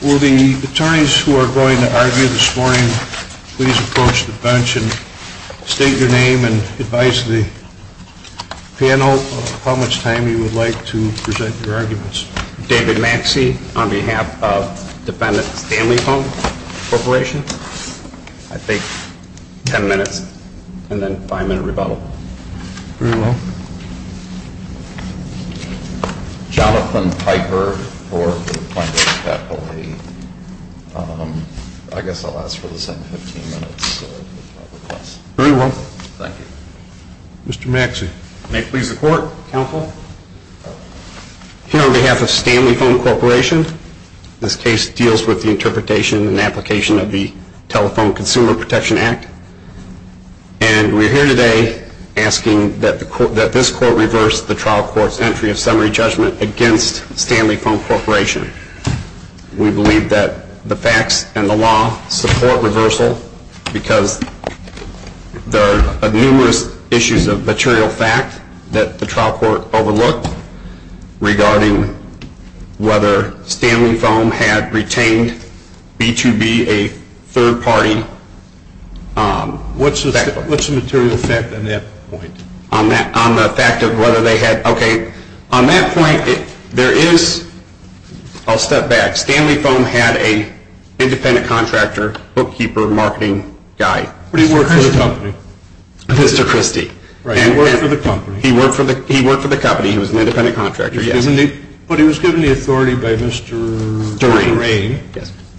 Will the attorneys who are going to argue this morning please approach the bench and state your name and advise the panel of how much time you would like to present your arguments. Mr. David Maxey on behalf of Defendant Stanley Foam Corp. I think 10 minutes and then a 5 minute rebuttal. Very well. Jonathan Piper for the Plaintiff's Faculty. I guess I'll ask for the same 15 minutes. Very well. Thank you. Mr. Maxey. May it please the Court. Counsel. Here on behalf of Stanley Foam Corp. This case deals with the interpretation and application of the Telephone Consumer Protection Act. And we're here today asking that this Court reverse the trial court's entry of summary judgment against Stanley Foam Corp. We believe that the facts and the law support reversal because there are numerous issues of material fact that the trial court overlooked regarding whether Stanley Foam had retained B2B, a third party. What's the material fact on that point? On the fact of whether they had, okay, on that point there is, I'll step back. Stanley Foam had an independent contractor, bookkeeper, marketing guy. But he worked for the company. Mr. Christie. Right, he worked for the company. He worked for the company. He was an independent contractor, yes. But he was given the authority by Mr. Durain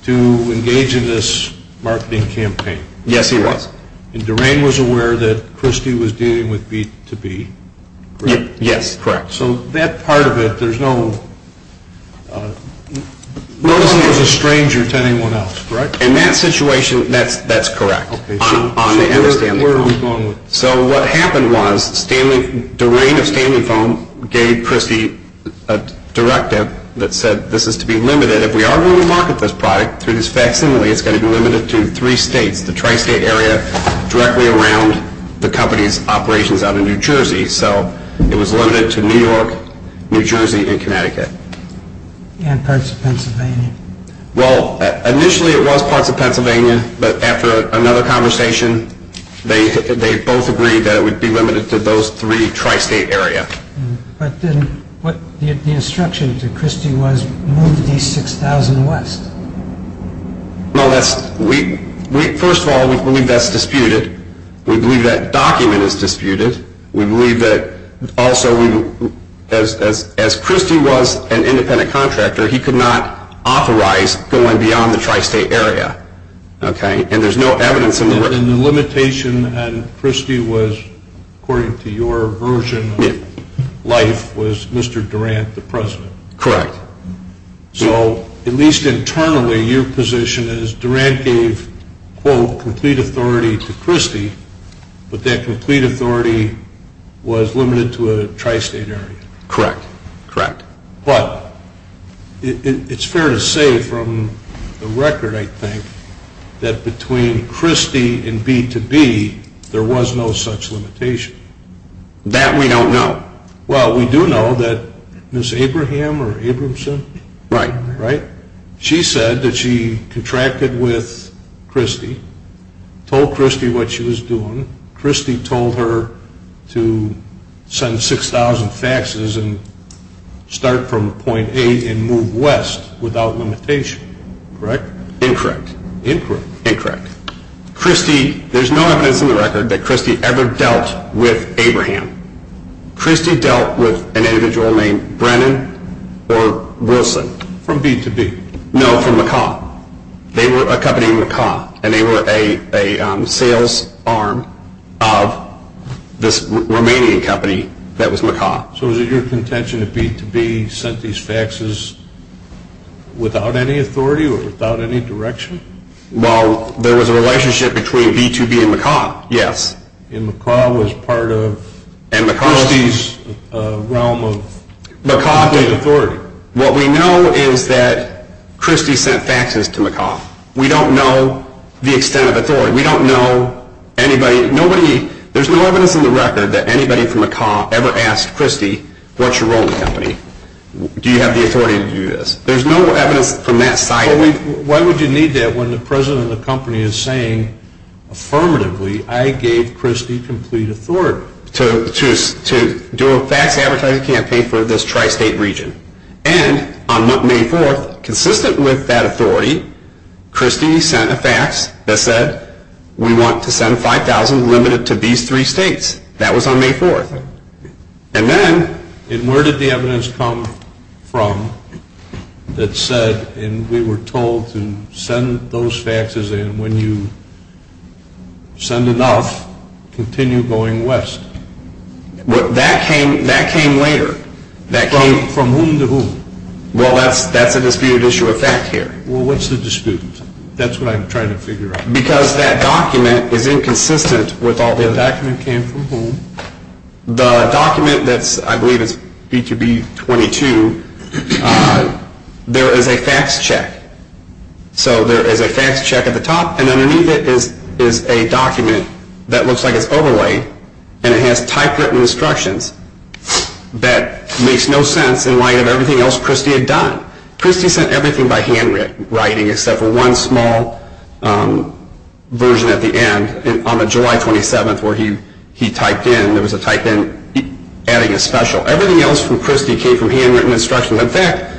to engage in this marketing campaign. Yes, he was. And Durain was aware that Christie was dealing with B2B, correct? Yes, correct. So that part of it, there's no, no one was a stranger to anyone else, correct? In that situation, that's correct. Okay, so where are we going with this? So what happened was Durain of Stanley Foam gave Christie a directive that said this is to be limited. He said if we are going to market this product through this facsimile, it's going to be limited to three states. The tri-state area directly around the company's operations out in New Jersey. So it was limited to New York, New Jersey, and Connecticut. And parts of Pennsylvania. Well, initially it was parts of Pennsylvania, but after another conversation, they both agreed that it would be limited to those three tri-state area. But then what the instruction to Christie was, move these 6,000 west. No, that's, we, first of all, we believe that's disputed. We believe that document is disputed. We believe that also we, as Christie was an independent contractor, he could not authorize going beyond the tri-state area. Okay, and there's no evidence in the work. And the limitation on Christie was, according to your version of life, was Mr. Durant the president. Correct. So at least internally, your position is Durant gave, quote, complete authority to Christie, but that complete authority was limited to a tri-state area. Correct, correct. But it's fair to say from the record, I think, that between Christie and B2B, there was no such limitation. That we don't know. Well, we do know that Ms. Abraham or Abramson. Right. Right? She said that she contracted with Christie, told Christie what she was doing. Christie told her to send 6,000 faxes and start from point A and move west without limitation. Correct? Incorrect. Incorrect. Incorrect. Christie, there's no evidence in the record that Christie ever dealt with Abraham. Christie dealt with an individual named Brennan or Wilson. From B2B. No, from McCaw. They were a company in McCaw and they were a sales arm of this Romanian company that was McCaw. So was it your contention that B2B sent these faxes without any authority or without any direction? Well, there was a relationship between B2B and McCaw, yes. And McCaw was part of Christie's realm of authority. What we know is that Christie sent faxes to McCaw. We don't know the extent of authority. We don't know anybody. There's no evidence in the record that anybody from McCaw ever asked Christie, what's your role in the company? Do you have the authority to do this? There's no evidence from that side. Why would you need that when the president of the company is saying affirmatively, I gave Christie complete authority? To do a fax advertising campaign for this tri-state region. And on May 4th, consistent with that authority, Christie sent a fax that said we want to send 5,000 limited to these three states. That was on May 4th. And then where did the evidence come from that said, and we were told to send those faxes and when you send enough, continue going west? That came later. From whom to whom? Well, that's a disputed issue of fact here. Well, what's the dispute? That's what I'm trying to figure out. Because that document is inconsistent with all the other. The document came from whom? The document that's, I believe it's B2B22, there is a fax check. So there is a fax check at the top and underneath it is a document that looks like it's overlayed and it has typewritten instructions that makes no sense in light of everything else Christie had done. Christie sent everything by handwriting except for one small version at the end. On the July 27th where he typed in, there was a type in adding a special. Everything else from Christie came from handwritten instructions. In fact,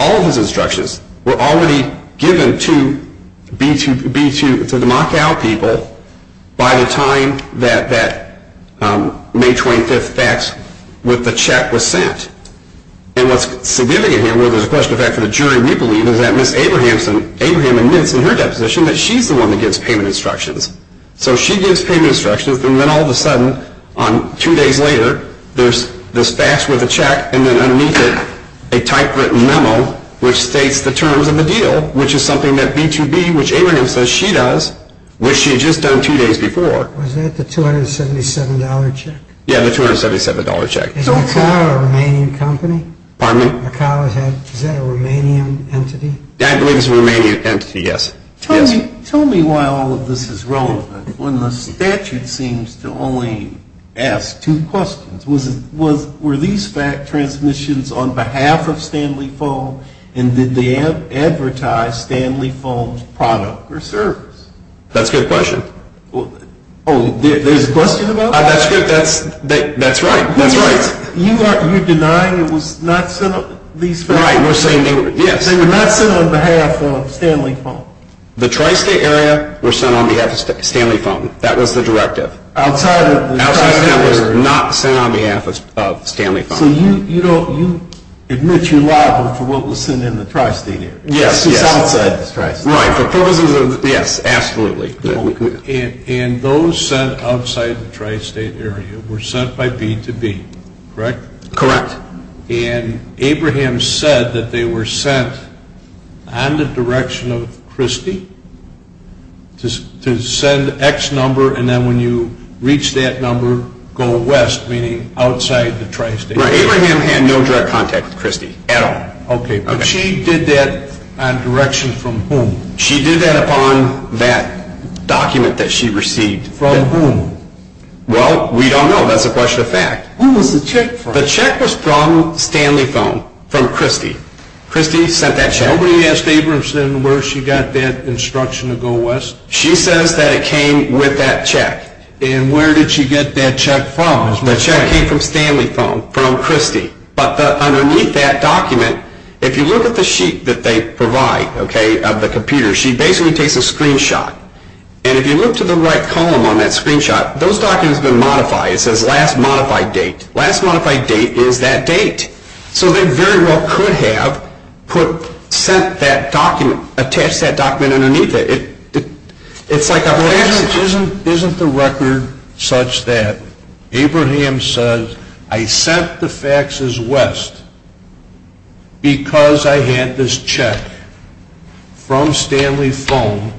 all of his instructions were already given to the Macao people by the time that May 25th fax with the check was sent. And what's significant here, well there's a question of fact for the jury we believe, is that Ms. Abraham admits in her deposition that she's the one that gives payment instructions. So she gives payment instructions and then all of a sudden, two days later, there's this fax with a check and then underneath it a typewritten memo which states the terms of the deal, which is something that B2B, which Abraham says she does, which she had just done two days before. Was that the $277 check? Yeah, the $277 check. Is Macao a Romanian company? Pardon me? Is Macao a Romanian entity? I believe it's a Romanian entity, yes. Tell me why all of this is relevant when the statute seems to only ask two questions. Were these fax transmissions on behalf of Stanley Fulm and did they advertise Stanley Fulm's product or service? That's a good question. Oh, there's a question about that? That's right, that's right. You're denying it was not sent on behalf of Stanley Fulm? The Tri-State area were sent on behalf of Stanley Fulm. That was the directive. Outside of the Tri-State area? Outside of that was not sent on behalf of Stanley Fulm. So you admit you're liable for what was sent in the Tri-State area? Yes, yes. Just outside the Tri-State area? Right, for purposes of, yes, absolutely. And those sent outside the Tri-State area were sent by B2B, correct? Correct. And Abraham said that they were sent on the direction of Christie to send X number, and then when you reach that number, go west, meaning outside the Tri-State area. Right, Abraham had no direct contact with Christie at all. Okay, but she did that on direction from whom? She did that upon that document that she received. From whom? Well, we don't know. That's a question of fact. Who was the check from? The check was from Stanley Fulm, from Christie. Christie sent that check. Nobody asked Abraham where she got that instruction to go west? She says that it came with that check. And where did she get that check from? The check came from Stanley Fulm, from Christie. But underneath that document, if you look at the sheet that they provide, okay, of the computer, she basically takes a screenshot. And if you look to the right column on that screenshot, those documents have been modified. It says last modified date. Last modified date is that date. So they very well could have sent that document, attached that document underneath it. Isn't the record such that Abraham says, I sent the faxes west because I had this check from Stanley Fulm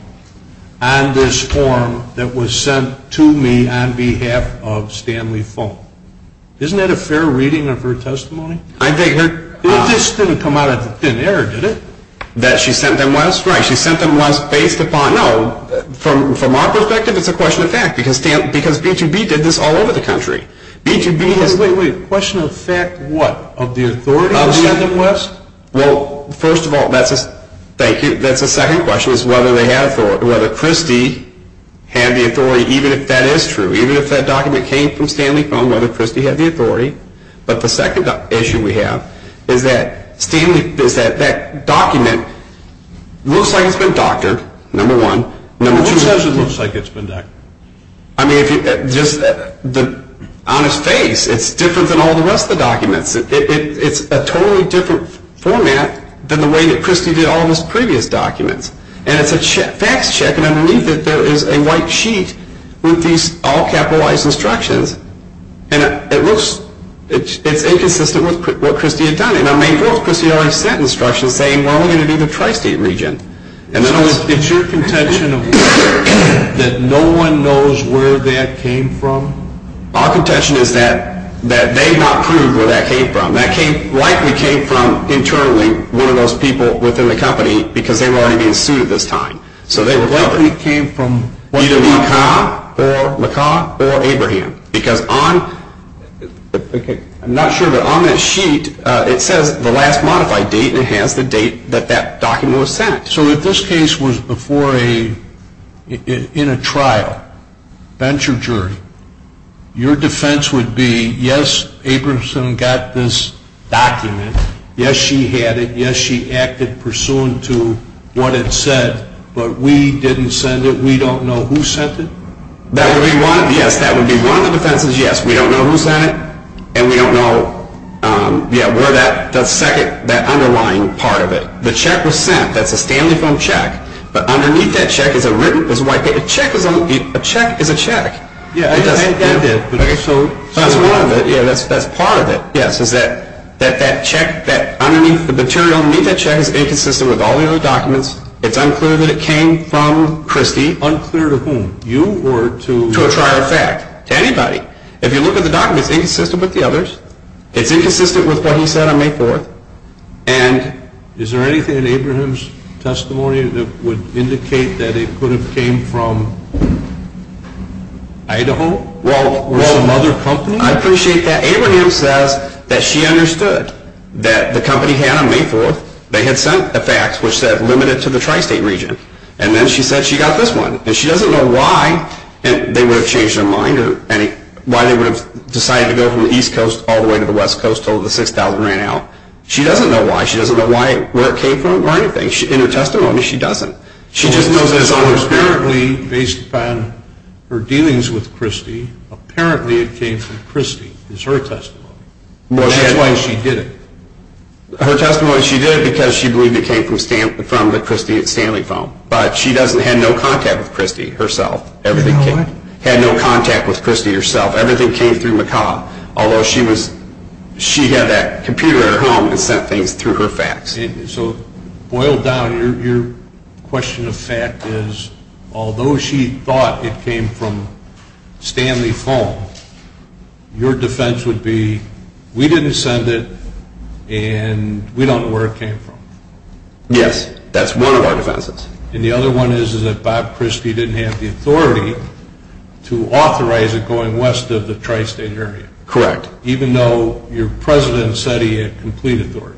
on this form that was sent to me on behalf of Stanley Fulm. Isn't that a fair reading of her testimony? This didn't come out of thin air, did it? That she sent them west? That's right. She sent them west based upon, no, from our perspective, it's a question of fact. Because B2B did this all over the country. Wait, wait, wait. Question of fact what? Of the authority to send them west? Well, first of all, that's a second question, is whether Christie had the authority, even if that is true. Even if that document came from Stanley Fulm, whether Christie had the authority. But the second issue we have is that that document looks like it's been doctored, number one. Who says it looks like it's been doctored? I mean, on its face, it's different than all the rest of the documents. It's a totally different format than the way that Christie did all of his previous documents. And it's a fax check, and underneath it there is a white sheet with these all-capitalized instructions. And it looks, it's inconsistent with what Christie had done. And on May 4th, Christie already sent instructions saying, well, we're going to do the Tri-State region. It's your contention that no one knows where that came from? Our contention is that they have not proved where that came from. That likely came from internally one of those people within the company because they were already being suited this time. So they were likely. Either McCaw or Abraham. Because on, I'm not sure, but on that sheet it says the last modified date, and it has the date that that document was sent. So if this case was before a, in a trial, venture jury, your defense would be, yes, Abramson got this document. Yes, she had it. Yes, she acted pursuant to what it said. But we didn't send it. We don't know who sent it. That would be one, yes, that would be one of the defenses, yes. We don't know who sent it, and we don't know, yeah, where that, that second, that underlying part of it. The check was sent. That's a Stanley film check. But underneath that check is a written, is a white paper, a check is a, a check is a check. Yeah, I did. So that's one of it. Yeah, that's part of it. Yes, is that, that, that check, that underneath, the material underneath that check is inconsistent with all the other documents. It's unclear that it came from Christie. Unclear to whom? You or to? To a trial effect. To anybody. If you look at the documents, it's inconsistent with the others. It's inconsistent with what he said on May 4th. And is there anything in Abraham's testimony that would indicate that it could have came from Idaho or some other company? Well, I appreciate that. Abraham says that she understood that the company had on May 4th, they had sent a fax which said limited to the tri-state region. And then she said she got this one. And she doesn't know why. And they would have changed their mind or any, why they would have decided to go from the East Coast all the way to the West Coast until the 6000 ran out. She doesn't know why. She doesn't know why, where it came from or anything. In her testimony, she doesn't. She just knows that it's on her. Well, this is apparently based upon her dealings with Christie. Apparently it came from Christie. It's her testimony. That's why she did it. Her testimony, she did it because she believed it came from the Christie Stanley phone. But she doesn't, had no contact with Christie herself. Had no contact with Christie herself. Everything came through McCaw. Although she was, she had that computer at her home and sent things through her fax. So, boiled down, your question of fact is, although she thought it came from Stanley phone, your defense would be, we didn't send it and we don't know where it came from. Yes. That's one of our defenses. And the other one is that Bob Christie didn't have the authority to authorize it going west of the tri-state area. Correct. Even though your president said he had complete authority.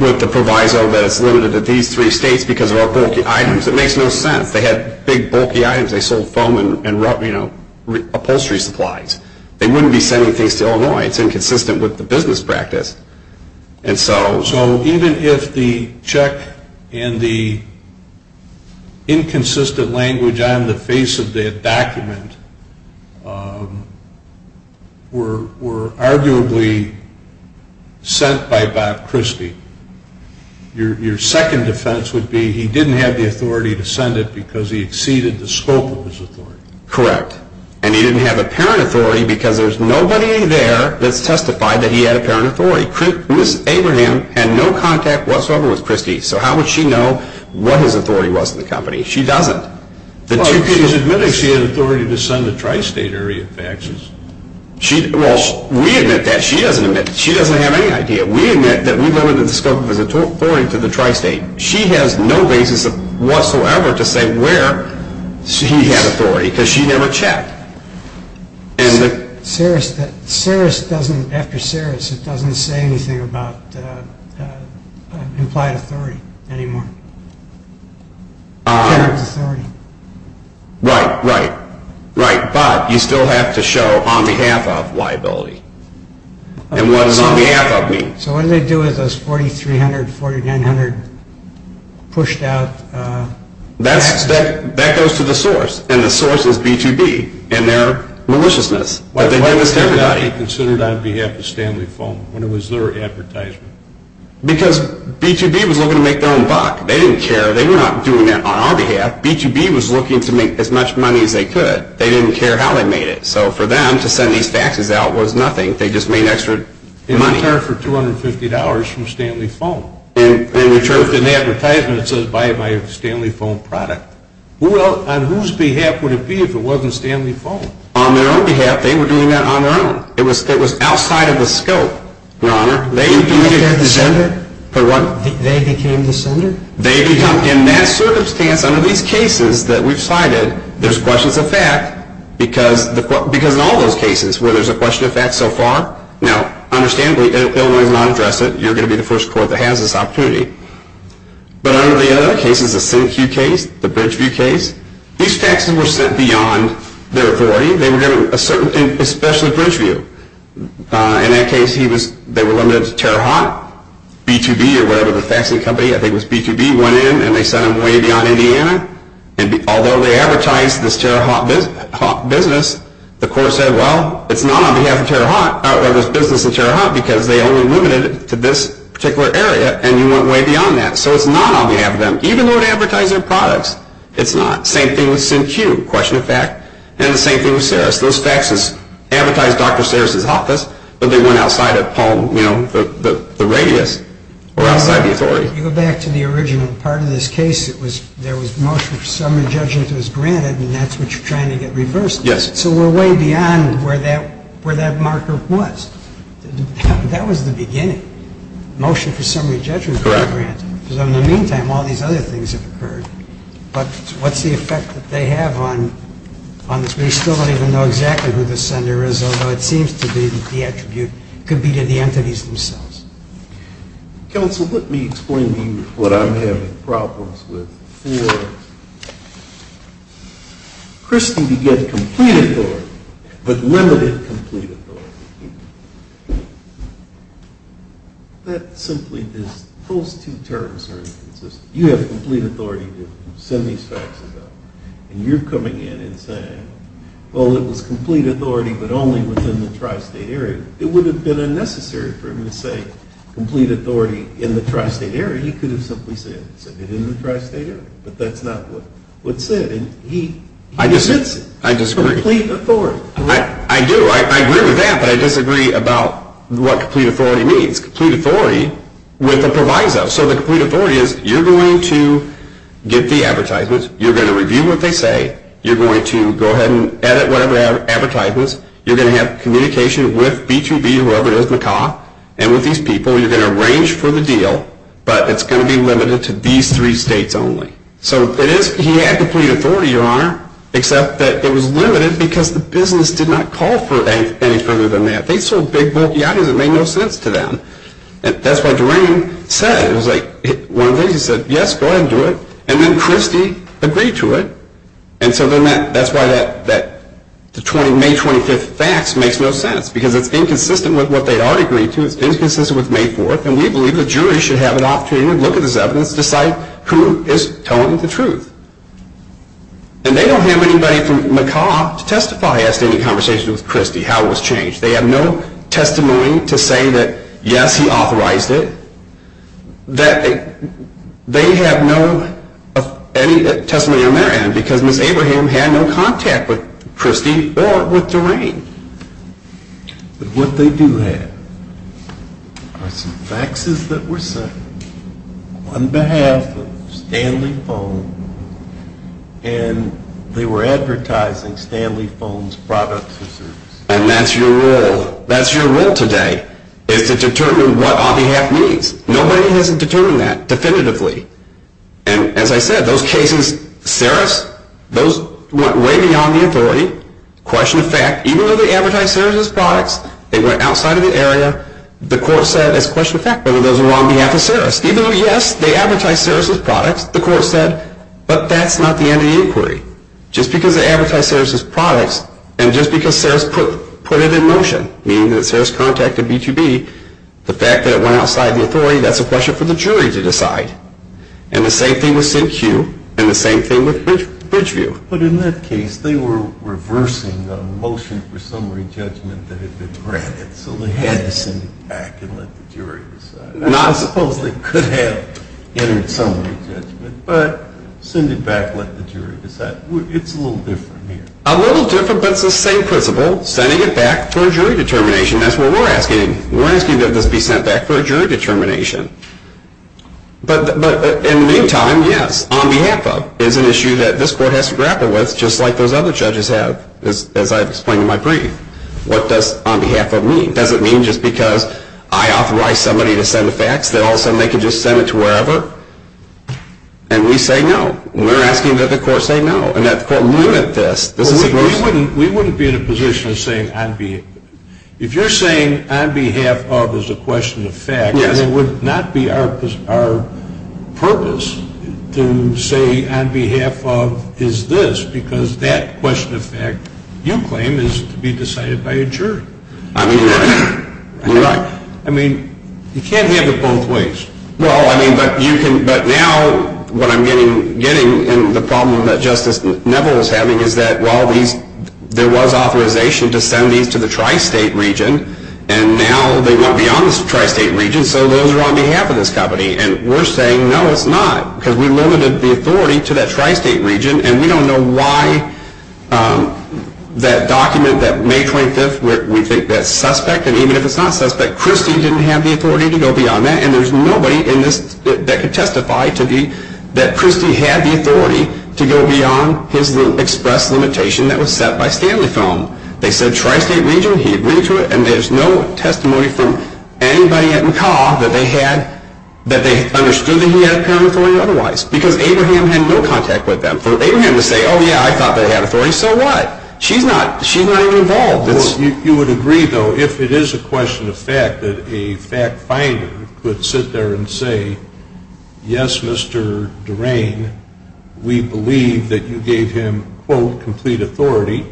With the proviso that it's limited to these three states because of our bulky items. It makes no sense. They had big bulky items. They sold foam and upholstery supplies. They wouldn't be sending things to Illinois. It's inconsistent with the business practice. So even if the check and the inconsistent language on the face of that document were arguably sent by Bob Christie, your second defense would be he didn't have the authority to send it because he exceeded the scope of his authority. Correct. And he didn't have apparent authority because there's nobody there that's testified that he had apparent authority. Miss Abraham had no contact whatsoever with Christie. So how would she know what his authority was in the company? She doesn't. Well, she's admitting she had authority to send the tri-state area faxes. Well, we admit that. She doesn't admit it. She doesn't have any idea. We admit that we limited the scope of his authority to the tri-state. She has no basis whatsoever to say where she had authority because she never checked. After Saris, it doesn't say anything about implied authority anymore. Right, right, right. But you still have to show on behalf of liability. And what does on behalf of mean? So what do they do with those 4,300, 4,900 pushed out faxes? That goes to the source, and the source is B2B and their maliciousness. Why was that not considered on behalf of Stanley Fulmer when it was their advertisement? Because B2B was looking to make their own buck. They didn't care. They were not doing that on our behalf. B2B was looking to make as much money as they could. They didn't care how they made it. So for them to send these faxes out was nothing. They just made extra money. They didn't care for $250 from Stanley Fulmer. And the truth in the advertisement says buy my Stanley Fulmer product. Well, on whose behalf would it be if it wasn't Stanley Fulmer? On their own behalf. They were doing that on their own. It was outside of the scope, Your Honor. They became the sender? For what? They became the sender? In that circumstance, under these cases that we've cited, there's questions of fact, because in all those cases where there's a question of fact so far, now, understandably, Illinois does not address it. You're going to be the first court that has this opportunity. But under the other cases, the SynQ case, the Bridgeview case, these faxes were sent beyond their authority. They were given a certain, especially Bridgeview. In that case, they were limited to TeraHot. B2B or whatever the faxing company, I think it was B2B, went in, and they sent them way beyond Indiana. And although they advertised this TeraHot business, the court said, well, it's not on behalf of TeraHot, or this business of TeraHot, because they only limited it to this particular area, and you went way beyond that. So it's not on behalf of them. Even though it advertised their products, it's not. Same thing with SynQ, question of fact. And the same thing with Saris. Those faxes advertised Dr. Saris' office, but they went outside the radius or outside the authority. If you go back to the original part of this case, there was motion for summary judgment that was granted, and that's what you're trying to get reversed. Yes. So we're way beyond where that marker was. That was the beginning. Motion for summary judgment was granted. Correct. Because in the meantime, all these other things have occurred. But what's the effect that they have on this? We still don't even know exactly who the sender is, although it seems to be the attribute could be to the entities themselves. Counsel, let me explain to you what I'm having problems with. For Christy to get complete authority but limited complete authority, that simply is those two terms are inconsistent. You have complete authority to send these faxes out, and you're coming in and saying, well, it was complete authority but only within the tri-state area. It would have been unnecessary for him to say complete authority in the tri-state area. He could have simply said it in the tri-state area. But that's not what's said. And he dismisses it. I disagree. For complete authority. I do. I agree with that, but I disagree about what complete authority means. Complete authority with a proviso. So the complete authority is you're going to get the advertisements, you're going to review what they say, you're going to go ahead and edit whatever advertisements, you're going to have communication with B2B, whoever it is, and with these people, you're going to arrange for the deal, but it's going to be limited to these three states only. So he had complete authority, Your Honor, except that it was limited because the business did not call for any further than that. They sold big, bulky items that made no sense to them. That's what Doreen said. It was like one of these. He said, yes, go ahead and do it. And then Christy agreed to it. And so then that's why that May 25th fax makes no sense because it's inconsistent with what they'd already agreed to. It's inconsistent with May 4th, and we believe the jury should have an opportunity to look at this evidence to decide who is telling the truth. And they don't have anybody from McCaw to testify as to any conversation with Christy, how it was changed. They have no testimony to say that, yes, he authorized it. They have no testimony on their end because Ms. Abraham had no contact with Christy or with Doreen. But what they do have are some faxes that were sent on behalf of Stanley Foam, and they were advertising Stanley Foam's products or services. And that's your role. That's your role today is to determine what on behalf means. Nobody has determined that definitively. And as I said, those cases, Sarris, those went way beyond the authority. Question of fact, even though they advertised Sarris's products, they went outside of the area. The court said, as a question of fact, whether those were on behalf of Sarris. Even though, yes, they advertised Sarris's products, the court said, but that's not the end of the inquiry. Just because they advertised Sarris's products and just because Sarris put it in motion, meaning that Sarris contacted B2B, the fact that it went outside the authority, that's a question for the jury to decide. And the same thing with CQ and the same thing with Bridgeview. But in that case, they were reversing the motion for summary judgment that had been granted, so they had to send it back and let the jury decide. I suppose they could have entered summary judgment, but send it back, let the jury decide. It's a little different here. A little different, but it's the same principle, sending it back for a jury determination. That's what we're asking. We're asking that this be sent back for a jury determination. But in the meantime, yes, on behalf of, is an issue that this court has to grapple with, just like those other judges have, as I've explained in my brief. What does on behalf of mean? Does it mean just because I authorize somebody to send a fax, that all of a sudden they can just send it to wherever? And we say no. We're asking that the court say no, and that the court look at this. We wouldn't be in a position of saying on behalf. If you're saying on behalf of is a question of fact, then it would not be our purpose to say on behalf of is this, because that question of fact, you claim, is to be decided by a jury. I mean, you're right. I mean, you can't have it both ways. Well, I mean, but now what I'm getting in the problem that Justice Neville is having is that while there was authorization to send these to the tri-state region, and now they went beyond the tri-state region, so those are on behalf of this company. And we're saying no, it's not, because we limited the authority to that tri-state region, and we don't know why that document, that May 25th, we think that's suspect. And even if it's not suspect, Christie didn't have the authority to go beyond that, and there's nobody in this that could testify that Christie had the authority to go beyond his express limitation that was set by Stanley Foam. They said tri-state region, he agreed to it, and there's no testimony from anybody at McCaw that they understood that he had apparent authority otherwise, because Abraham had no contact with them. For Abraham to say, oh, yeah, I thought they had authority, so what? She's not even involved. Well, you would agree, though, if it is a question of fact, that a fact finder could sit there and say, yes, Mr. Durain, we believe that you gave him, quote, complete authority,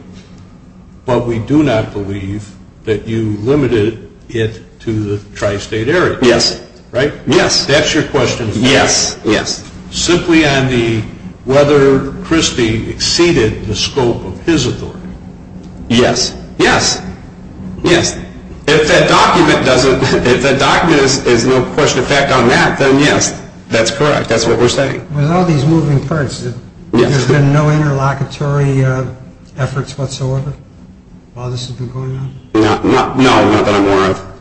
but we do not believe that you limited it to the tri-state area. Yes. Right? Yes. That's your question. Yes. Yes. Simply on the whether Christie exceeded the scope of his authority. Yes. Yes. Yes. If that document is no question of fact on that, then yes, that's correct. That's what we're saying. With all these moving parts, there's been no interlocutory efforts whatsoever while this has been going on? No, not that I'm aware of.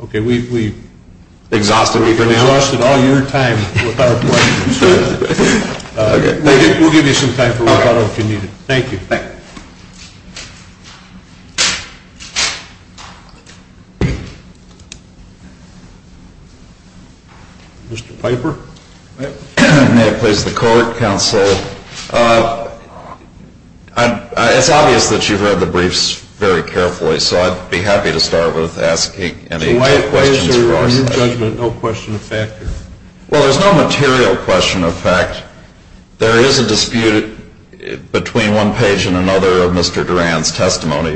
Okay, we've exhausted all your time with our questions. We'll give you some time for rebuttal if you need it. Thank you. Thank you. Mr. Piper. May it please the court, counsel. It's obvious that you've read the briefs very carefully, so I'd be happy to start with asking any questions. So why is there, in your judgment, no question of fact? Well, there's no material question of fact.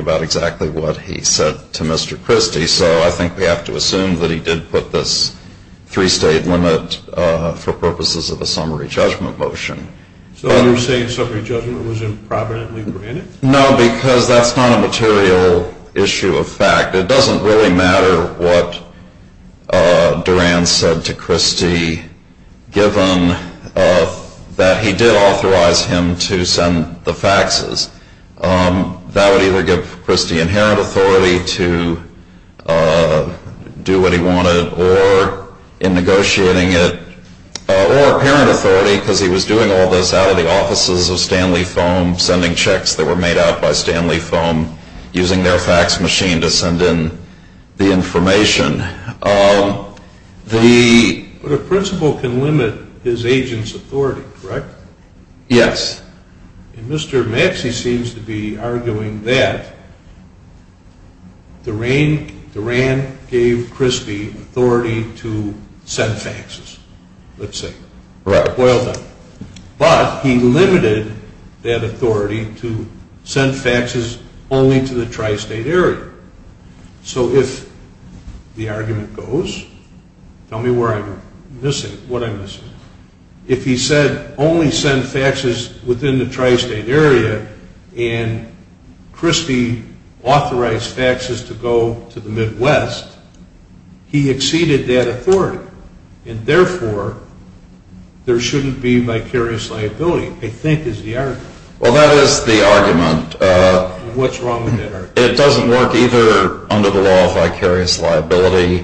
about exactly what he said to Mr. Christie, so I think we have to assume that he did put this three-state limit for purposes of a summary judgment motion. So you're saying summary judgment was improvidently granted? No, because that's not a material issue of fact. It doesn't really matter what Duran said to Christie, given that he did authorize him to send the faxes. That would either give Christie inherent authority to do what he wanted, or in negotiating it, or apparent authority, because he was doing all this out of the offices of Stanley Foam, sending checks that were made out by Stanley Foam, using their fax machine to send in the information. But a principal can limit his agent's authority, correct? Yes. And Mr. Maxey seems to be arguing that Duran gave Christie authority to send faxes, let's say. Right. But he limited that authority to send faxes only to the tri-state area. So if the argument goes, tell me what I'm missing. If he said only send faxes within the tri-state area, and Christie authorized faxes to go to the Midwest, he exceeded that authority. And therefore, there shouldn't be vicarious liability, I think is the argument. Well, that is the argument. What's wrong with that argument? It doesn't work either under the law of vicarious liability,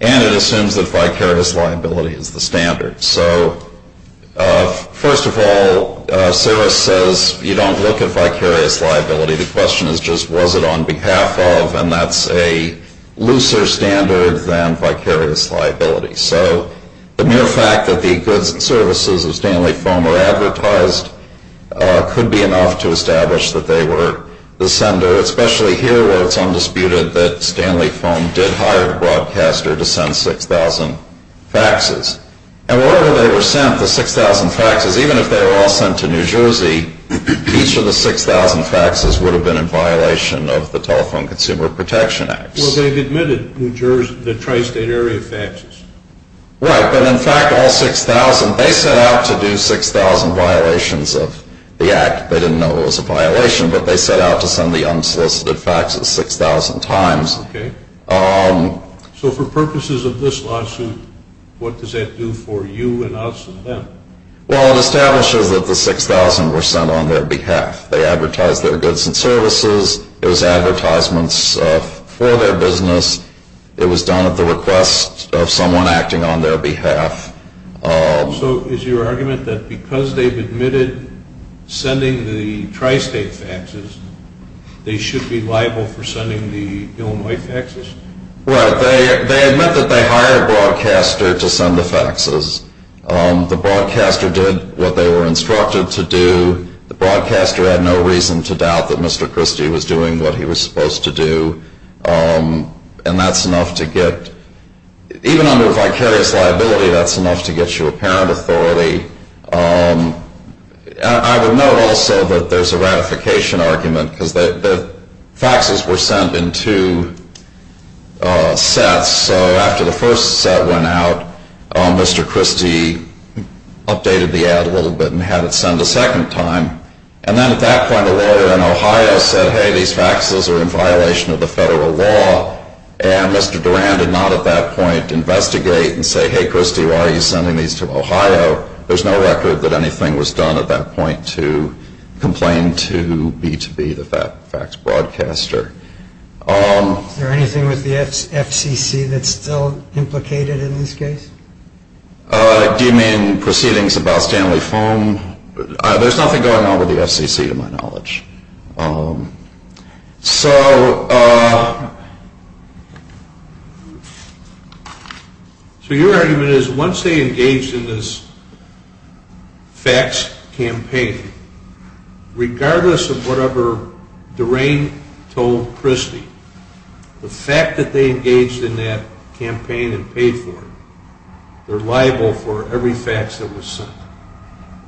and it assumes that vicarious liability is the standard. So, first of all, SIRIS says you don't look at vicarious liability. The question is just was it on behalf of, and that's a looser standard than vicarious liability. So the mere fact that the goods and services of Stanley Foam were advertised could be enough to establish that they were the sender, especially here where it's undisputed that Stanley Foam did hire a broadcaster to send 6,000 faxes. And wherever they were sent, the 6,000 faxes, even if they were all sent to New Jersey, each of the 6,000 faxes would have been in violation of the Telephone Consumer Protection Act. Well, they've admitted New Jersey, the tri-state area faxes. Right. But in fact, all 6,000, they set out to do 6,000 violations of the act. They didn't know it was a violation, but they set out to send the unsolicited faxes 6,000 times. Okay. So for purposes of this lawsuit, what does that do for you and us and them? Well, it establishes that the 6,000 were sent on their behalf. They advertised their goods and services. It was advertisements for their business. It was done at the request of someone acting on their behalf. So is your argument that because they've admitted sending the tri-state faxes, they should be liable for sending the Illinois faxes? Right. They admit that they hired a broadcaster to send the faxes. The broadcaster did what they were instructed to do. The broadcaster had no reason to doubt that Mr. Christie was doing what he was supposed to do. And that's enough to get, even under vicarious liability, that's enough to get you a parent authority. I would note also that there's a ratification argument because the faxes were sent in two sets. So after the first set went out, Mr. Christie updated the ad a little bit and had it sent a second time. And then at that point, a lawyer in Ohio said, hey, these faxes are in violation of the federal law. And Mr. Duran did not at that point investigate and say, hey, Christie, why are you sending these to Ohio? There's no record that anything was done at that point to complain to B2B, the fax broadcaster. Is there anything with the FCC that's still implicated in this case? Do you mean proceedings about Stanley Foam? There's nothing going on with the FCC to my knowledge. So your argument is once they engaged in this fax campaign, regardless of whatever Duran told Christie, the fact that they engaged in that campaign and paid for it, they're liable for every fax that was sent.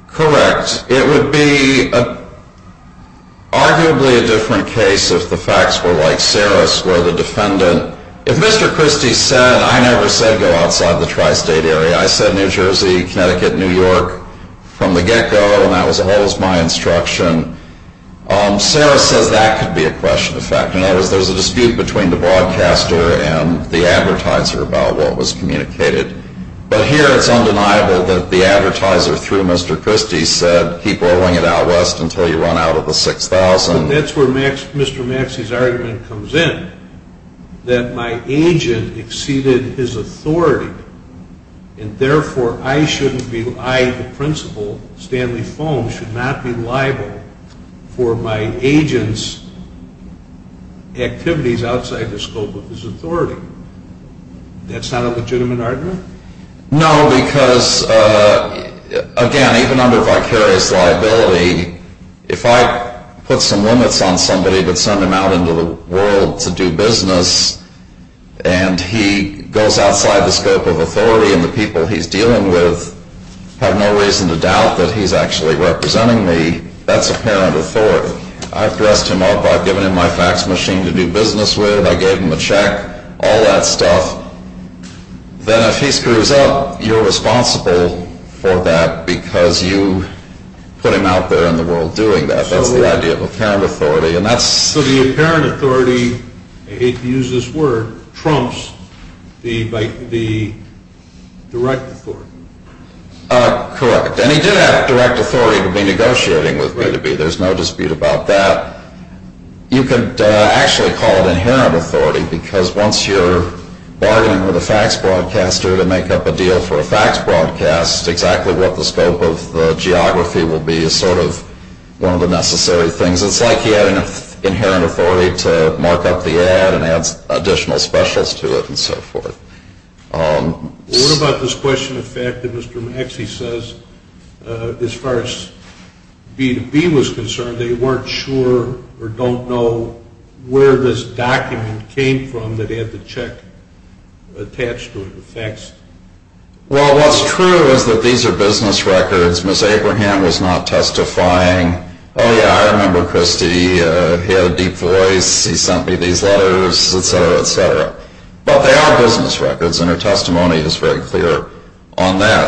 Correct. It would be arguably a different case if the fax were like Saris, where the defendant, if Mr. Christie said, I never said go outside the tri-state area. I said New Jersey, Connecticut, New York from the get-go, and that was always my instruction. Saris says that could be a question of fact. In other words, there's a dispute between the broadcaster and the advertiser about what was communicated. But here it's undeniable that the advertiser, through Mr. Christie, said keep rolling it out west until you run out of the 6,000. That's where Mr. Maxey's argument comes in, that my agent exceeded his authority, and therefore I, the principal, Stanley Foam, should not be liable for my agent's activities outside the scope of his authority. That's not a legitimate argument? No, because, again, even under vicarious liability, if I put some limits on somebody but send him out into the world to do business and he goes outside the scope of authority and the people he's dealing with have no reason to doubt that he's actually representing me, that's apparent authority. I've dressed him up, I've given him my fax machine to do business with, I gave him a check, all that stuff. Then if he screws up, you're responsible for that because you put him out there in the world doing that. That's the idea of apparent authority. So the apparent authority, I hate to use this word, trumps the direct authority? Correct. And he did have direct authority to be negotiating with B2B. There's no dispute about that. You could actually call it inherent authority because once you're bargaining with a fax broadcaster to make up a deal for a fax broadcast, exactly what the scope of the geography will be is sort of one of the necessary things. It's like he had inherent authority to mark up the ad and add additional specials to it and so forth. What about this question of fact that Mr. Maxey says, as far as B2B was concerned, they weren't sure or don't know where this document came from that had the check attached to it or faxed? Well, what's true is that these are business records. Ms. Abraham was not testifying. Oh, yeah, I remember Christy. He had a deep voice. He sent me these letters, et cetera, et cetera. But they are business records, and her testimony is very clear on that.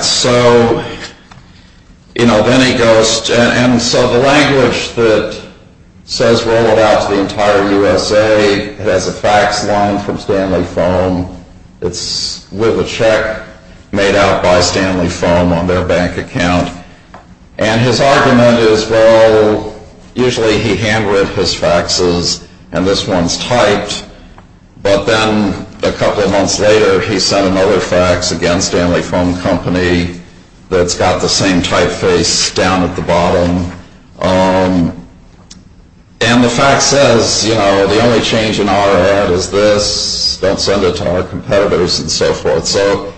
And so the language that says roll it out to the entire USA has a fax line from Stanley Foam. It's with a check made out by Stanley Foam on their bank account. And his argument is, well, usually he handwritten his faxes and this one's typed. But then a couple of months later, he sent another fax against Stanley Foam Company that's got the same typeface down at the bottom. And the fax says, you know, the only change in our ad is this. Don't send it to our competitors and so forth. So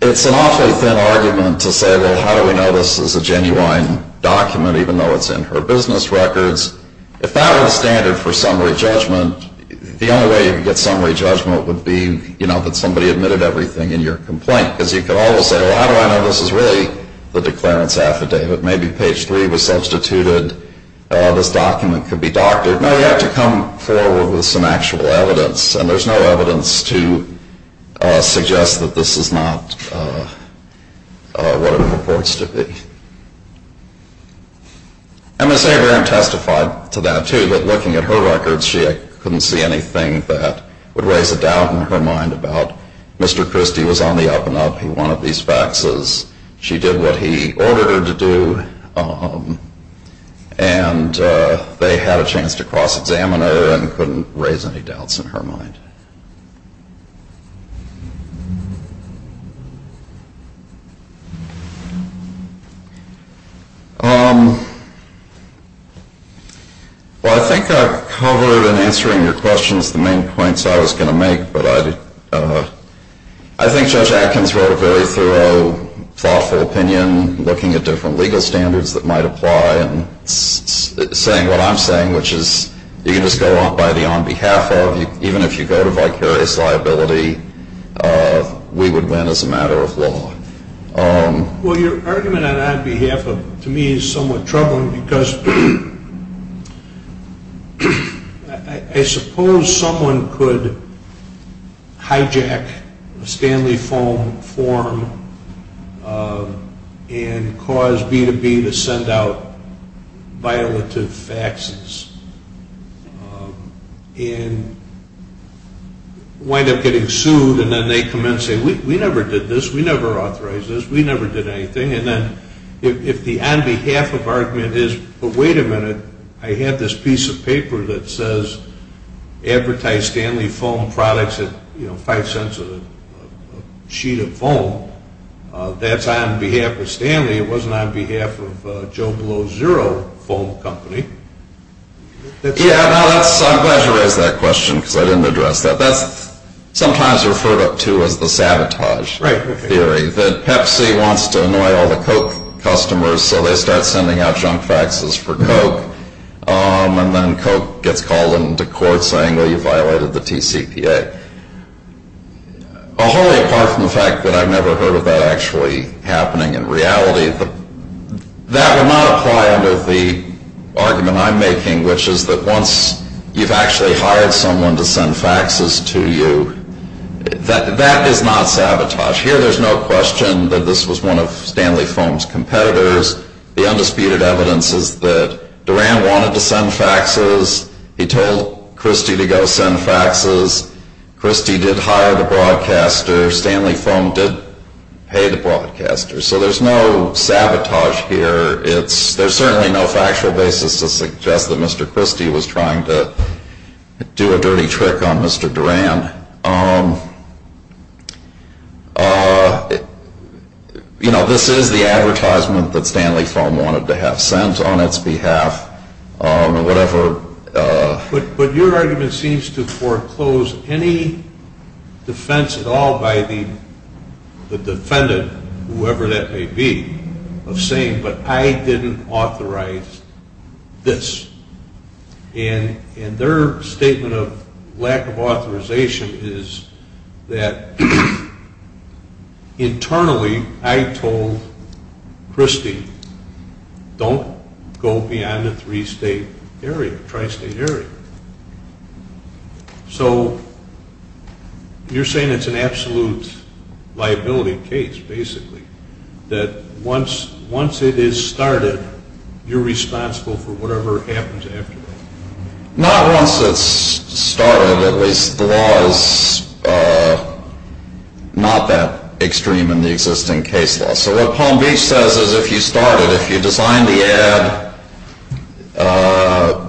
it's an awfully thin argument to say, well, how do we know this is a genuine document, even though it's in her business records? If that were the standard for summary judgment, the only way you could get summary judgment would be, you know, that somebody admitted everything in your complaint. Because you could always say, well, how do I know this is really the declarant's affidavit? Maybe page three was substituted. This document could be doctored. No, you have to come forward with some actual evidence, and there's no evidence to suggest that this is not what it purports to be. And Ms. Abraham testified to that, too, that looking at her records, she couldn't see anything that would raise a doubt in her mind about, Mr. Christie was on the up-and-up. He wanted these faxes. She did what he ordered her to do, and they had a chance to cross-examine her and couldn't raise any doubts in her mind. Well, I think I've covered in answering your questions the main points I was going to make, but I think Judge Atkins wrote a very thorough, thoughtful opinion, looking at different legal standards that might apply, and saying what I'm saying, which is you can just go on by the on behalf of. Even if you go to the Supreme Court, we would win as a matter of law. Well, your argument on our behalf, to me, is somewhat troubling, because I suppose someone could hijack a Stanley form and cause B2B to send out violative faxes. And wind up getting sued, and then they come in and say, we never did this, we never authorized this, we never did anything. And then if the on behalf of argument is, but wait a minute, I have this piece of paper that says, advertise Stanley Foam products at five cents a sheet of foam. That's on behalf of Stanley. It wasn't on behalf of Joe Below Zero Foam Company. Yeah, I'm glad you raised that question, because I didn't address that. That's sometimes referred to as the sabotage theory, that Pepsi wants to annoy all the Coke customers, so they start sending out junk faxes for Coke, and then Coke gets called into court saying, well, you violated the TCPA. Wholly apart from the fact that I've never heard of that actually happening in reality, that would not apply under the argument I'm making, which is that once you've actually hired someone to send faxes to you, that is not sabotage. Here there's no question that this was one of Stanley Foam's competitors. The undisputed evidence is that Duran wanted to send faxes. He told Christie to go send faxes. Christie did hire the broadcaster. Stanley Foam did pay the broadcaster. So there's no sabotage here. There's certainly no factual basis to suggest that Mr. Christie was trying to do a dirty trick on Mr. Duran. This is the advertisement that Stanley Foam wanted to have sent on its behalf. But your argument seems to foreclose any defense at all by the defendant, whoever that may be, of saying, but I didn't authorize this. And their statement of lack of authorization is that internally I told Christie, don't go beyond the three-state area, tri-state area. So you're saying it's an absolute liability case, basically, that once it is started, you're responsible for whatever happens afterwards. Not once it's started, at least. The law is not that extreme in the existing case law. So what Palm Beach says is if you start it, if you design the ad,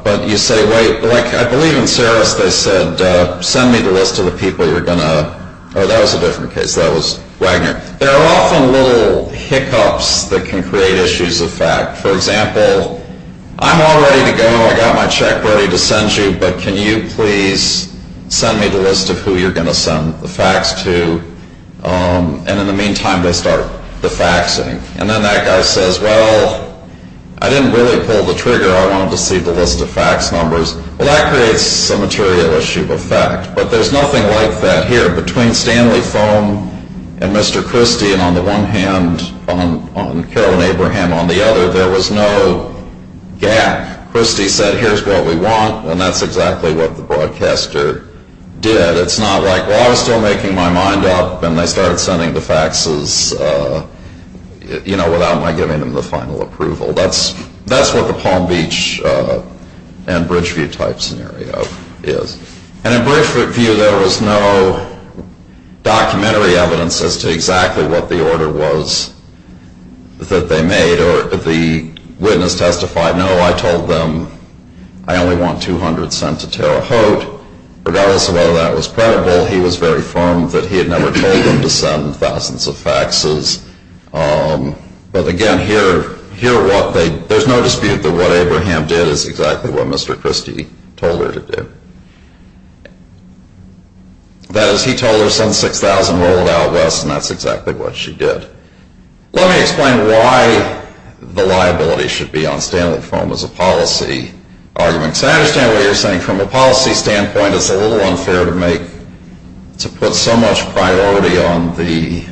but you say, wait, like I believe in Saris they said, send me the list of the people you're going to, or that was a different case, that was Wagner. There are often little hiccups that can create issues of fact. For example, I'm all ready to go, I got my check ready to send you, but can you please send me the list of who you're going to send the fax to? And in the meantime, they start the faxing. And then that guy says, well, I didn't really pull the trigger. I wanted to see the list of fax numbers. Well, that creates a material issue of fact. But there's nothing like that here. Between Stanley Foam and Mr. Christie and on the one hand, and Carolyn Abraham on the other, there was no gap. Christie said, here's what we want, and that's exactly what the broadcaster did. It's not like, well, I was still making my mind up, and they started sending the faxes, you know, without my giving them the final approval. That's what the Palm Beach and Bridgeview type scenario is. And in Bridgeview, there was no documentary evidence as to exactly what the order was that they made, or the witness testified, no, I told them I only want 200 cents to tear a hoat, regardless of whether that was credible. He was very firm that he had never told them to send thousands of faxes. But again, there's no dispute that what Abraham did is exactly what Mr. Christie told her to do. That is, he told her, send 6,000, roll it out west, and that's exactly what she did. Let me explain why the liability should be on Stanley Foam as a policy argument. So I understand what you're saying. From a policy standpoint, it's a little unfair to put so much priority on the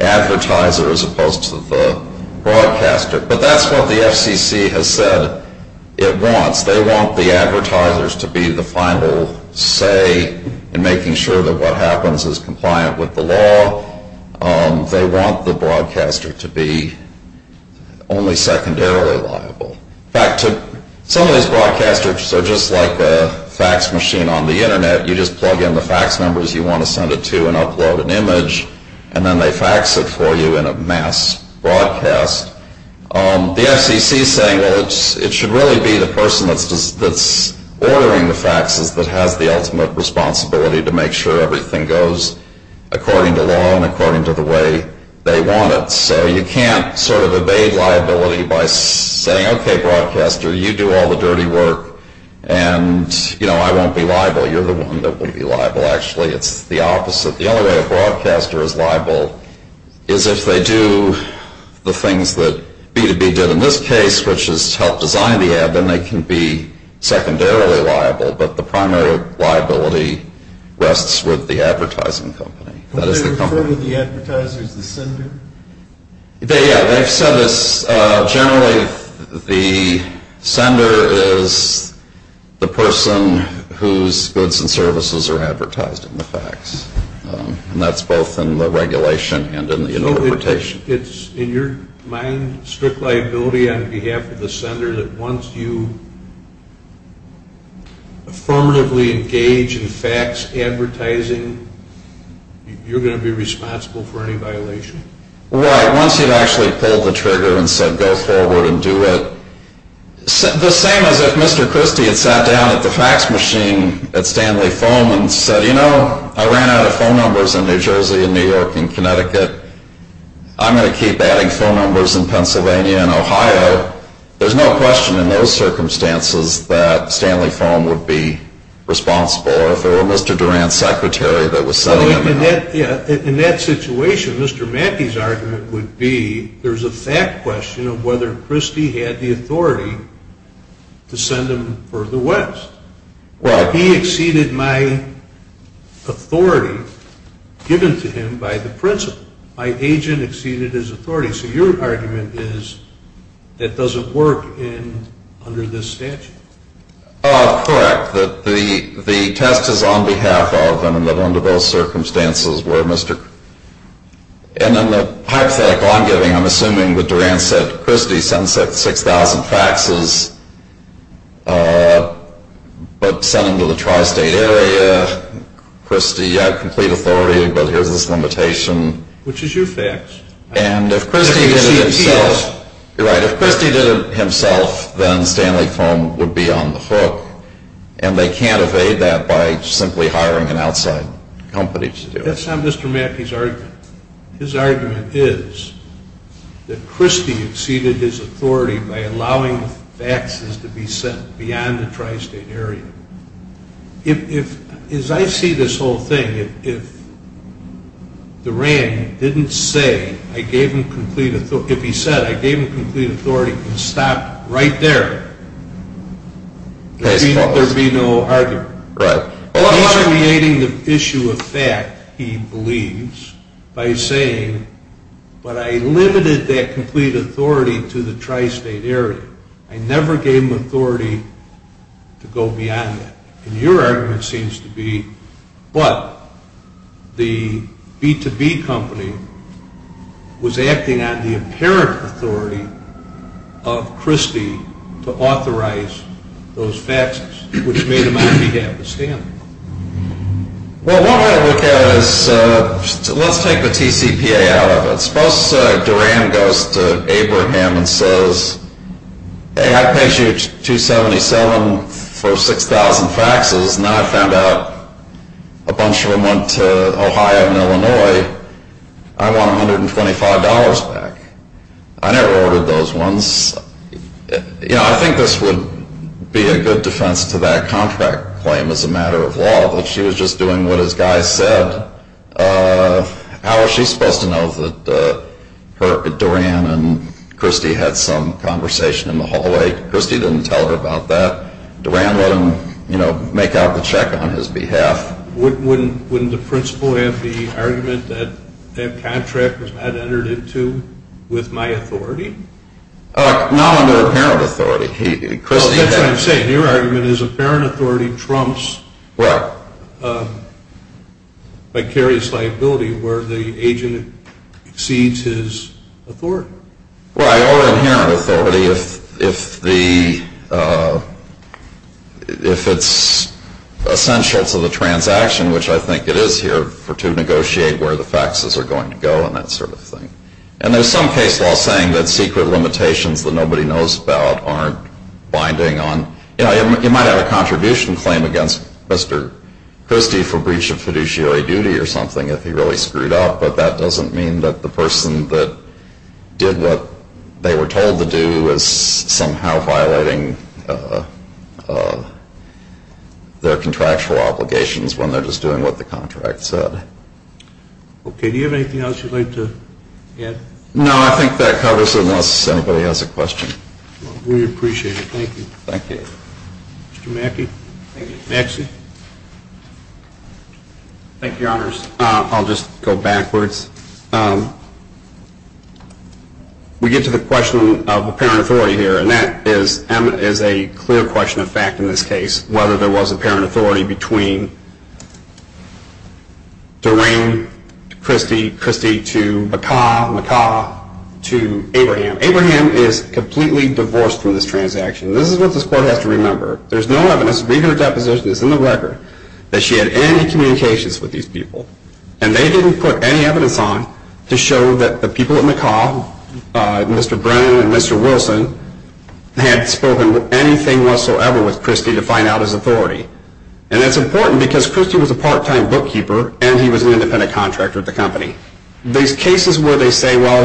advertiser as opposed to the broadcaster. But that's what the FCC has said it wants. They want the advertisers to be the final say in making sure that what happens is compliant with the law. They want the broadcaster to be only secondarily liable. In fact, some of these broadcasters are just like a fax machine on the Internet. You just plug in the fax numbers you want to send it to and upload an image, and then they fax it for you in a mass broadcast. The FCC is saying, well, it should really be the person that's ordering the faxes that has the ultimate responsibility to make sure everything goes according to law and according to the way they want it. So you can't sort of evade liability by saying, okay, broadcaster, you do all the dirty work, and I won't be liable. You're the one that will be liable, actually. It's the opposite. The only way a broadcaster is liable is if they do the things that B2B did in this case, which is help design the ad, then they can be secondarily liable. But the primary liability rests with the advertising company. Are they referring to the advertiser as the sender? Yeah, they've said this. Generally, the sender is the person whose goods and services are advertised in the fax, and that's both in the regulation and in the interpretation. So it's, in your mind, strict liability on behalf of the sender that once you affirmatively engage in fax advertising, you're going to be responsible for any violation? Right. Once you've actually pulled the trigger and said go forward and do it, the same as if Mr. Christie had sat down at the fax machine at Stanley Foam and said, you know, I ran out of phone numbers in New Jersey and New York and Connecticut. I'm going to keep adding phone numbers in Pennsylvania and Ohio. There's no question in those circumstances that Stanley Foam would be responsible. Or if it were Mr. Durant's secretary that was sending him the mail. In that situation, Mr. Mackey's argument would be there's a fact question of whether Christie had the authority to send him further west. Right. He exceeded my authority given to him by the principal. My agent exceeded his authority. So your argument is that doesn't work under this statute. Correct. The test is on behalf of and under both circumstances where Mr. And in the hypothetical I'm giving, I'm assuming that Durant said Christie sent 6,000 faxes, but sent them to the tri-state area. Christie had complete authority, but here's this limitation. Which is your fax. And if Christie did it himself, then Stanley Foam would be on the hook, and they can't evade that by simply hiring an outside company to do it. That's not Mr. Mackey's argument. His argument is that Christie exceeded his authority by allowing faxes to be sent beyond the tri-state area. As I see this whole thing, if Durant didn't say I gave him complete authority, if he said I gave him complete authority and stopped right there, there would be no argument. Right. He's creating the issue of fact, he believes, by saying, but I limited that complete authority to the tri-state area. I never gave him authority to go beyond that. And your argument seems to be, but the B2B company was acting on the apparent authority of Christie to authorize those faxes, which made them on behalf of Stanley. Well, one way to look at it is, let's take the TCPA out of it. Suppose Durant goes to Abraham and says, hey, I paid you $277 for 6,000 faxes, and I found out a bunch of them went to Ohio and Illinois. I want $125 back. I never ordered those ones. I think this would be a good defense to that contract claim as a matter of law, that she was just doing what his guy said. How was she supposed to know that Durant and Christie had some conversation in the hallway? Christie didn't tell her about that. Durant let him make out the check on his behalf. Wouldn't the principal have the argument that that contract was not entered into with my authority? Not under apparent authority. That's what I'm saying. Your argument is apparent authority trumps vicarious liability where the agent exceeds his authority. Right, or inherent authority if it's essential to the transaction, which I think it is here to negotiate where the faxes are going to go and that sort of thing. And there's some case law saying that secret limitations that nobody knows about aren't binding on. You know, you might have a contribution claim against Mr. Christie for breach of fiduciary duty or something if he really screwed up, but that doesn't mean that the person that did what they were told to do is somehow violating their contractual obligations when they're just doing what the contract said. Okay, do you have anything else you'd like to add? No, I think that covers it unless anybody has a question. Well, we appreciate it. Thank you. Thank you. Mr. Mackey? Thank you. Maxey? Thank you, Your Honors. I'll just go backwards. We get to the question of apparent authority here, and that is a clear question of fact in this case, whether there was apparent authority between Doreen Christie to McCaw to Abraham. Abraham is completely divorced from this transaction. This is what this Court has to remember. There's no evidence. Read her deposition. It's in the record that she had any communications with these people, and they didn't put any evidence on to show that the people at McCaw, Mr. Brennan and Mr. Wilson, had spoken anything whatsoever with Christie to find out his authority. And that's important because Christie was a part-time bookkeeper, and he was an independent contractor at the company. These cases where they say, well,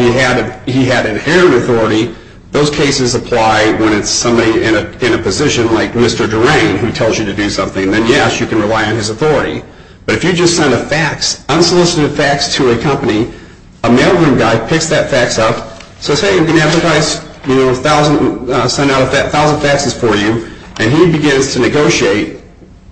he had inherent authority, those cases apply when it's somebody in a position like Mr. Doreen who tells you to do something. Then, yes, you can rely on his authority. But if you just send a fax, unsolicited fax to a company, a mailroom guy picks that fax up, says, hey, I'm going to advertise 1,000 faxes for you, and he begins to negotiate.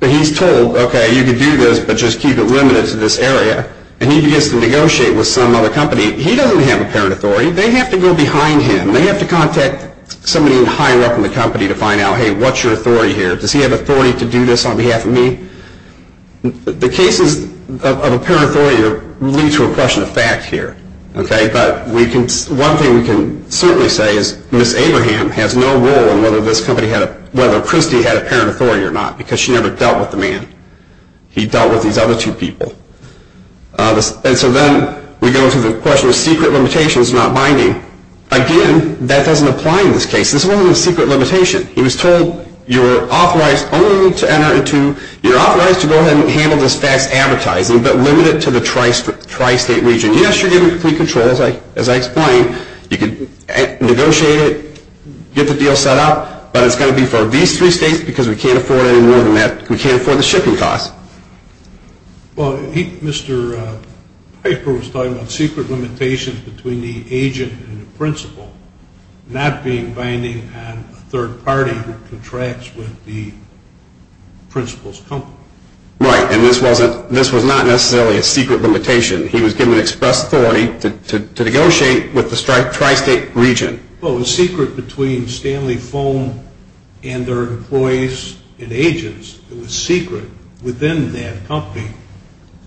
He's told, okay, you can do this, but just keep it limited to this area. And he begins to negotiate with some other company. He doesn't have apparent authority. They have to go behind him. They have to contact somebody higher up in the company to find out, hey, what's your authority here? Does he have authority to do this on behalf of me? The cases of apparent authority lead to a question of fact here. But one thing we can certainly say is Ms. Abraham has no role in whether this company had, whether Christie had apparent authority or not because she never dealt with the man. He dealt with these other two people. And so then we go to the question of secret limitations not binding. Again, that doesn't apply in this case. This is only a secret limitation. He was told, you're authorized only to enter into, you're authorized to go ahead and handle this fax advertising, but limit it to the tri-state region. So yes, you're given complete control, as I explained. You can negotiate it, get the deal set up, but it's going to be for these three states because we can't afford any more than that. We can't afford the shipping costs. Well, Mr. Piper was talking about secret limitations between the agent and the principal, not being binding on a third party who contracts with the principal's company. Right, and this was not necessarily a secret limitation. He was given express authority to negotiate with the tri-state region. Well, it was secret between Stanley Foam and their employees and agents. It was secret within that company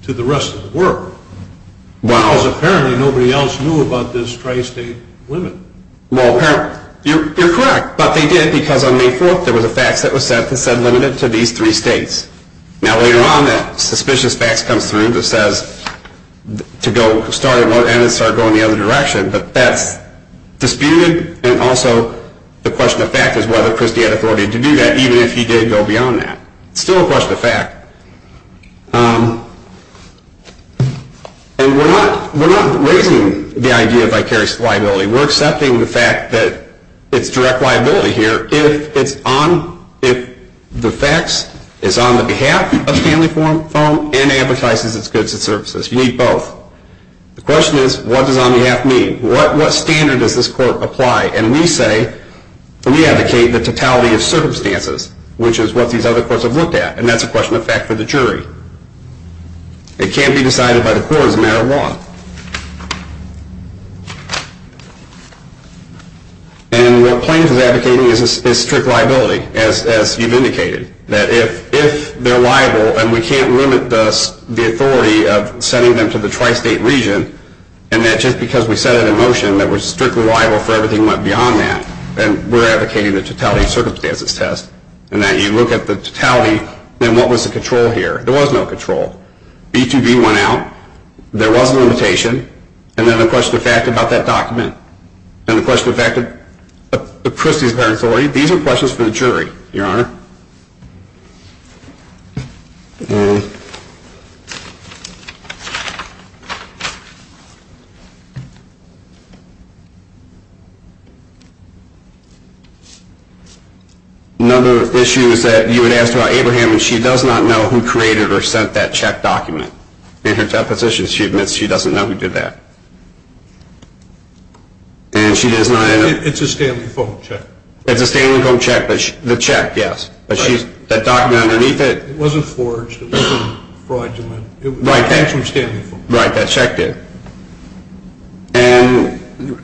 to the rest of the world. Wow. Because apparently nobody else knew about this tri-state limit. Well, you're correct, but they did because on May 4th there was a fax that was set that said limit it to these three states. Now, later on that suspicious fax comes through that says to go start at one end and start going the other direction, but that's disputed, and also the question of fact is whether Christie had authority to do that, even if he did go beyond that. It's still a question of fact. And we're not raising the idea of vicarious liability. We're accepting the fact that it's direct liability here if it's on, if the fax is on the behalf of Stanley Foam and advertises its goods and services. You need both. The question is what does on behalf mean? What standard does this court apply? And we say, we advocate the totality of circumstances, which is what these other courts have looked at, and that's a question of fact for the jury. It can't be decided by the court as a matter of law. And what Plains is advocating is strict liability, as you've indicated, that if they're liable and we can't limit the authority of sending them to the tri-state region, and that just because we set it in motion that we're strictly liable for everything beyond that, then we're advocating the totality of circumstances test, and that you look at the totality, then what was the control here? There was no control. B2B went out. There was a limitation. And then the question of fact about that document. And the question of fact of Christie's parent authority, these are questions for the jury, Your Honor. Another issue is that you had asked about Abraham, and she does not know who created or sent that check document in her deposition. She admits she doesn't know who did that. It's a Stanley Foe check. It's a Stanley Foe check, the check, yes. That document underneath it. It wasn't forged. It wasn't fraudulent. It came from Stanley Foe. Right, that check did. And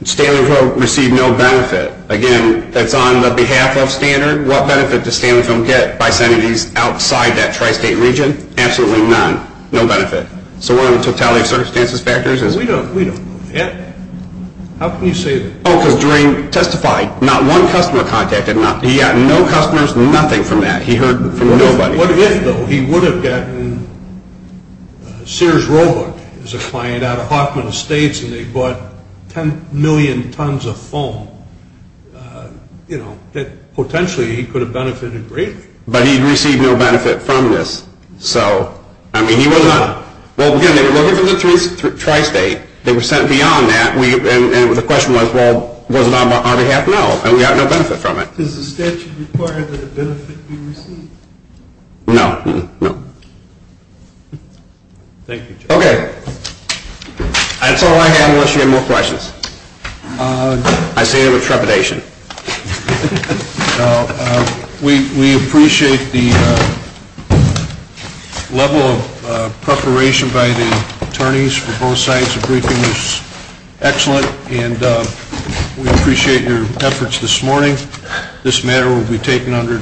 Stanley Foe received no benefit. Again, that's on the behalf of Standard. What benefit does Stanley Foe get by sending these outside that tri-state region? Absolutely none. No benefit. So what are the totality of circumstances factors? We don't know. How can you say that? Oh, because Doreen testified, not one customer contacted him. He got no customers, nothing from that. He heard from nobody. What if, though, he would have gotten Sears Roebuck as a client out of Hoffman Estates, and they bought 10 million tons of foam, you know, that potentially he could have benefited greatly. But he received no benefit from this. So, I mean, he was not, well, again, they were looking for the tri-state. They were sent beyond that, and the question was, well, was it on our behalf? No, and we got no benefit from it. Does the statute require that a benefit be received? No, no. Thank you, Chuck. Okay. That's all I have unless you have more questions. I say that with trepidation. Thank you. We appreciate the level of preparation by the attorneys for both sides of the briefing. It was excellent, and we appreciate your efforts this morning. This matter will be taken under advisement. Thank you. Thank you.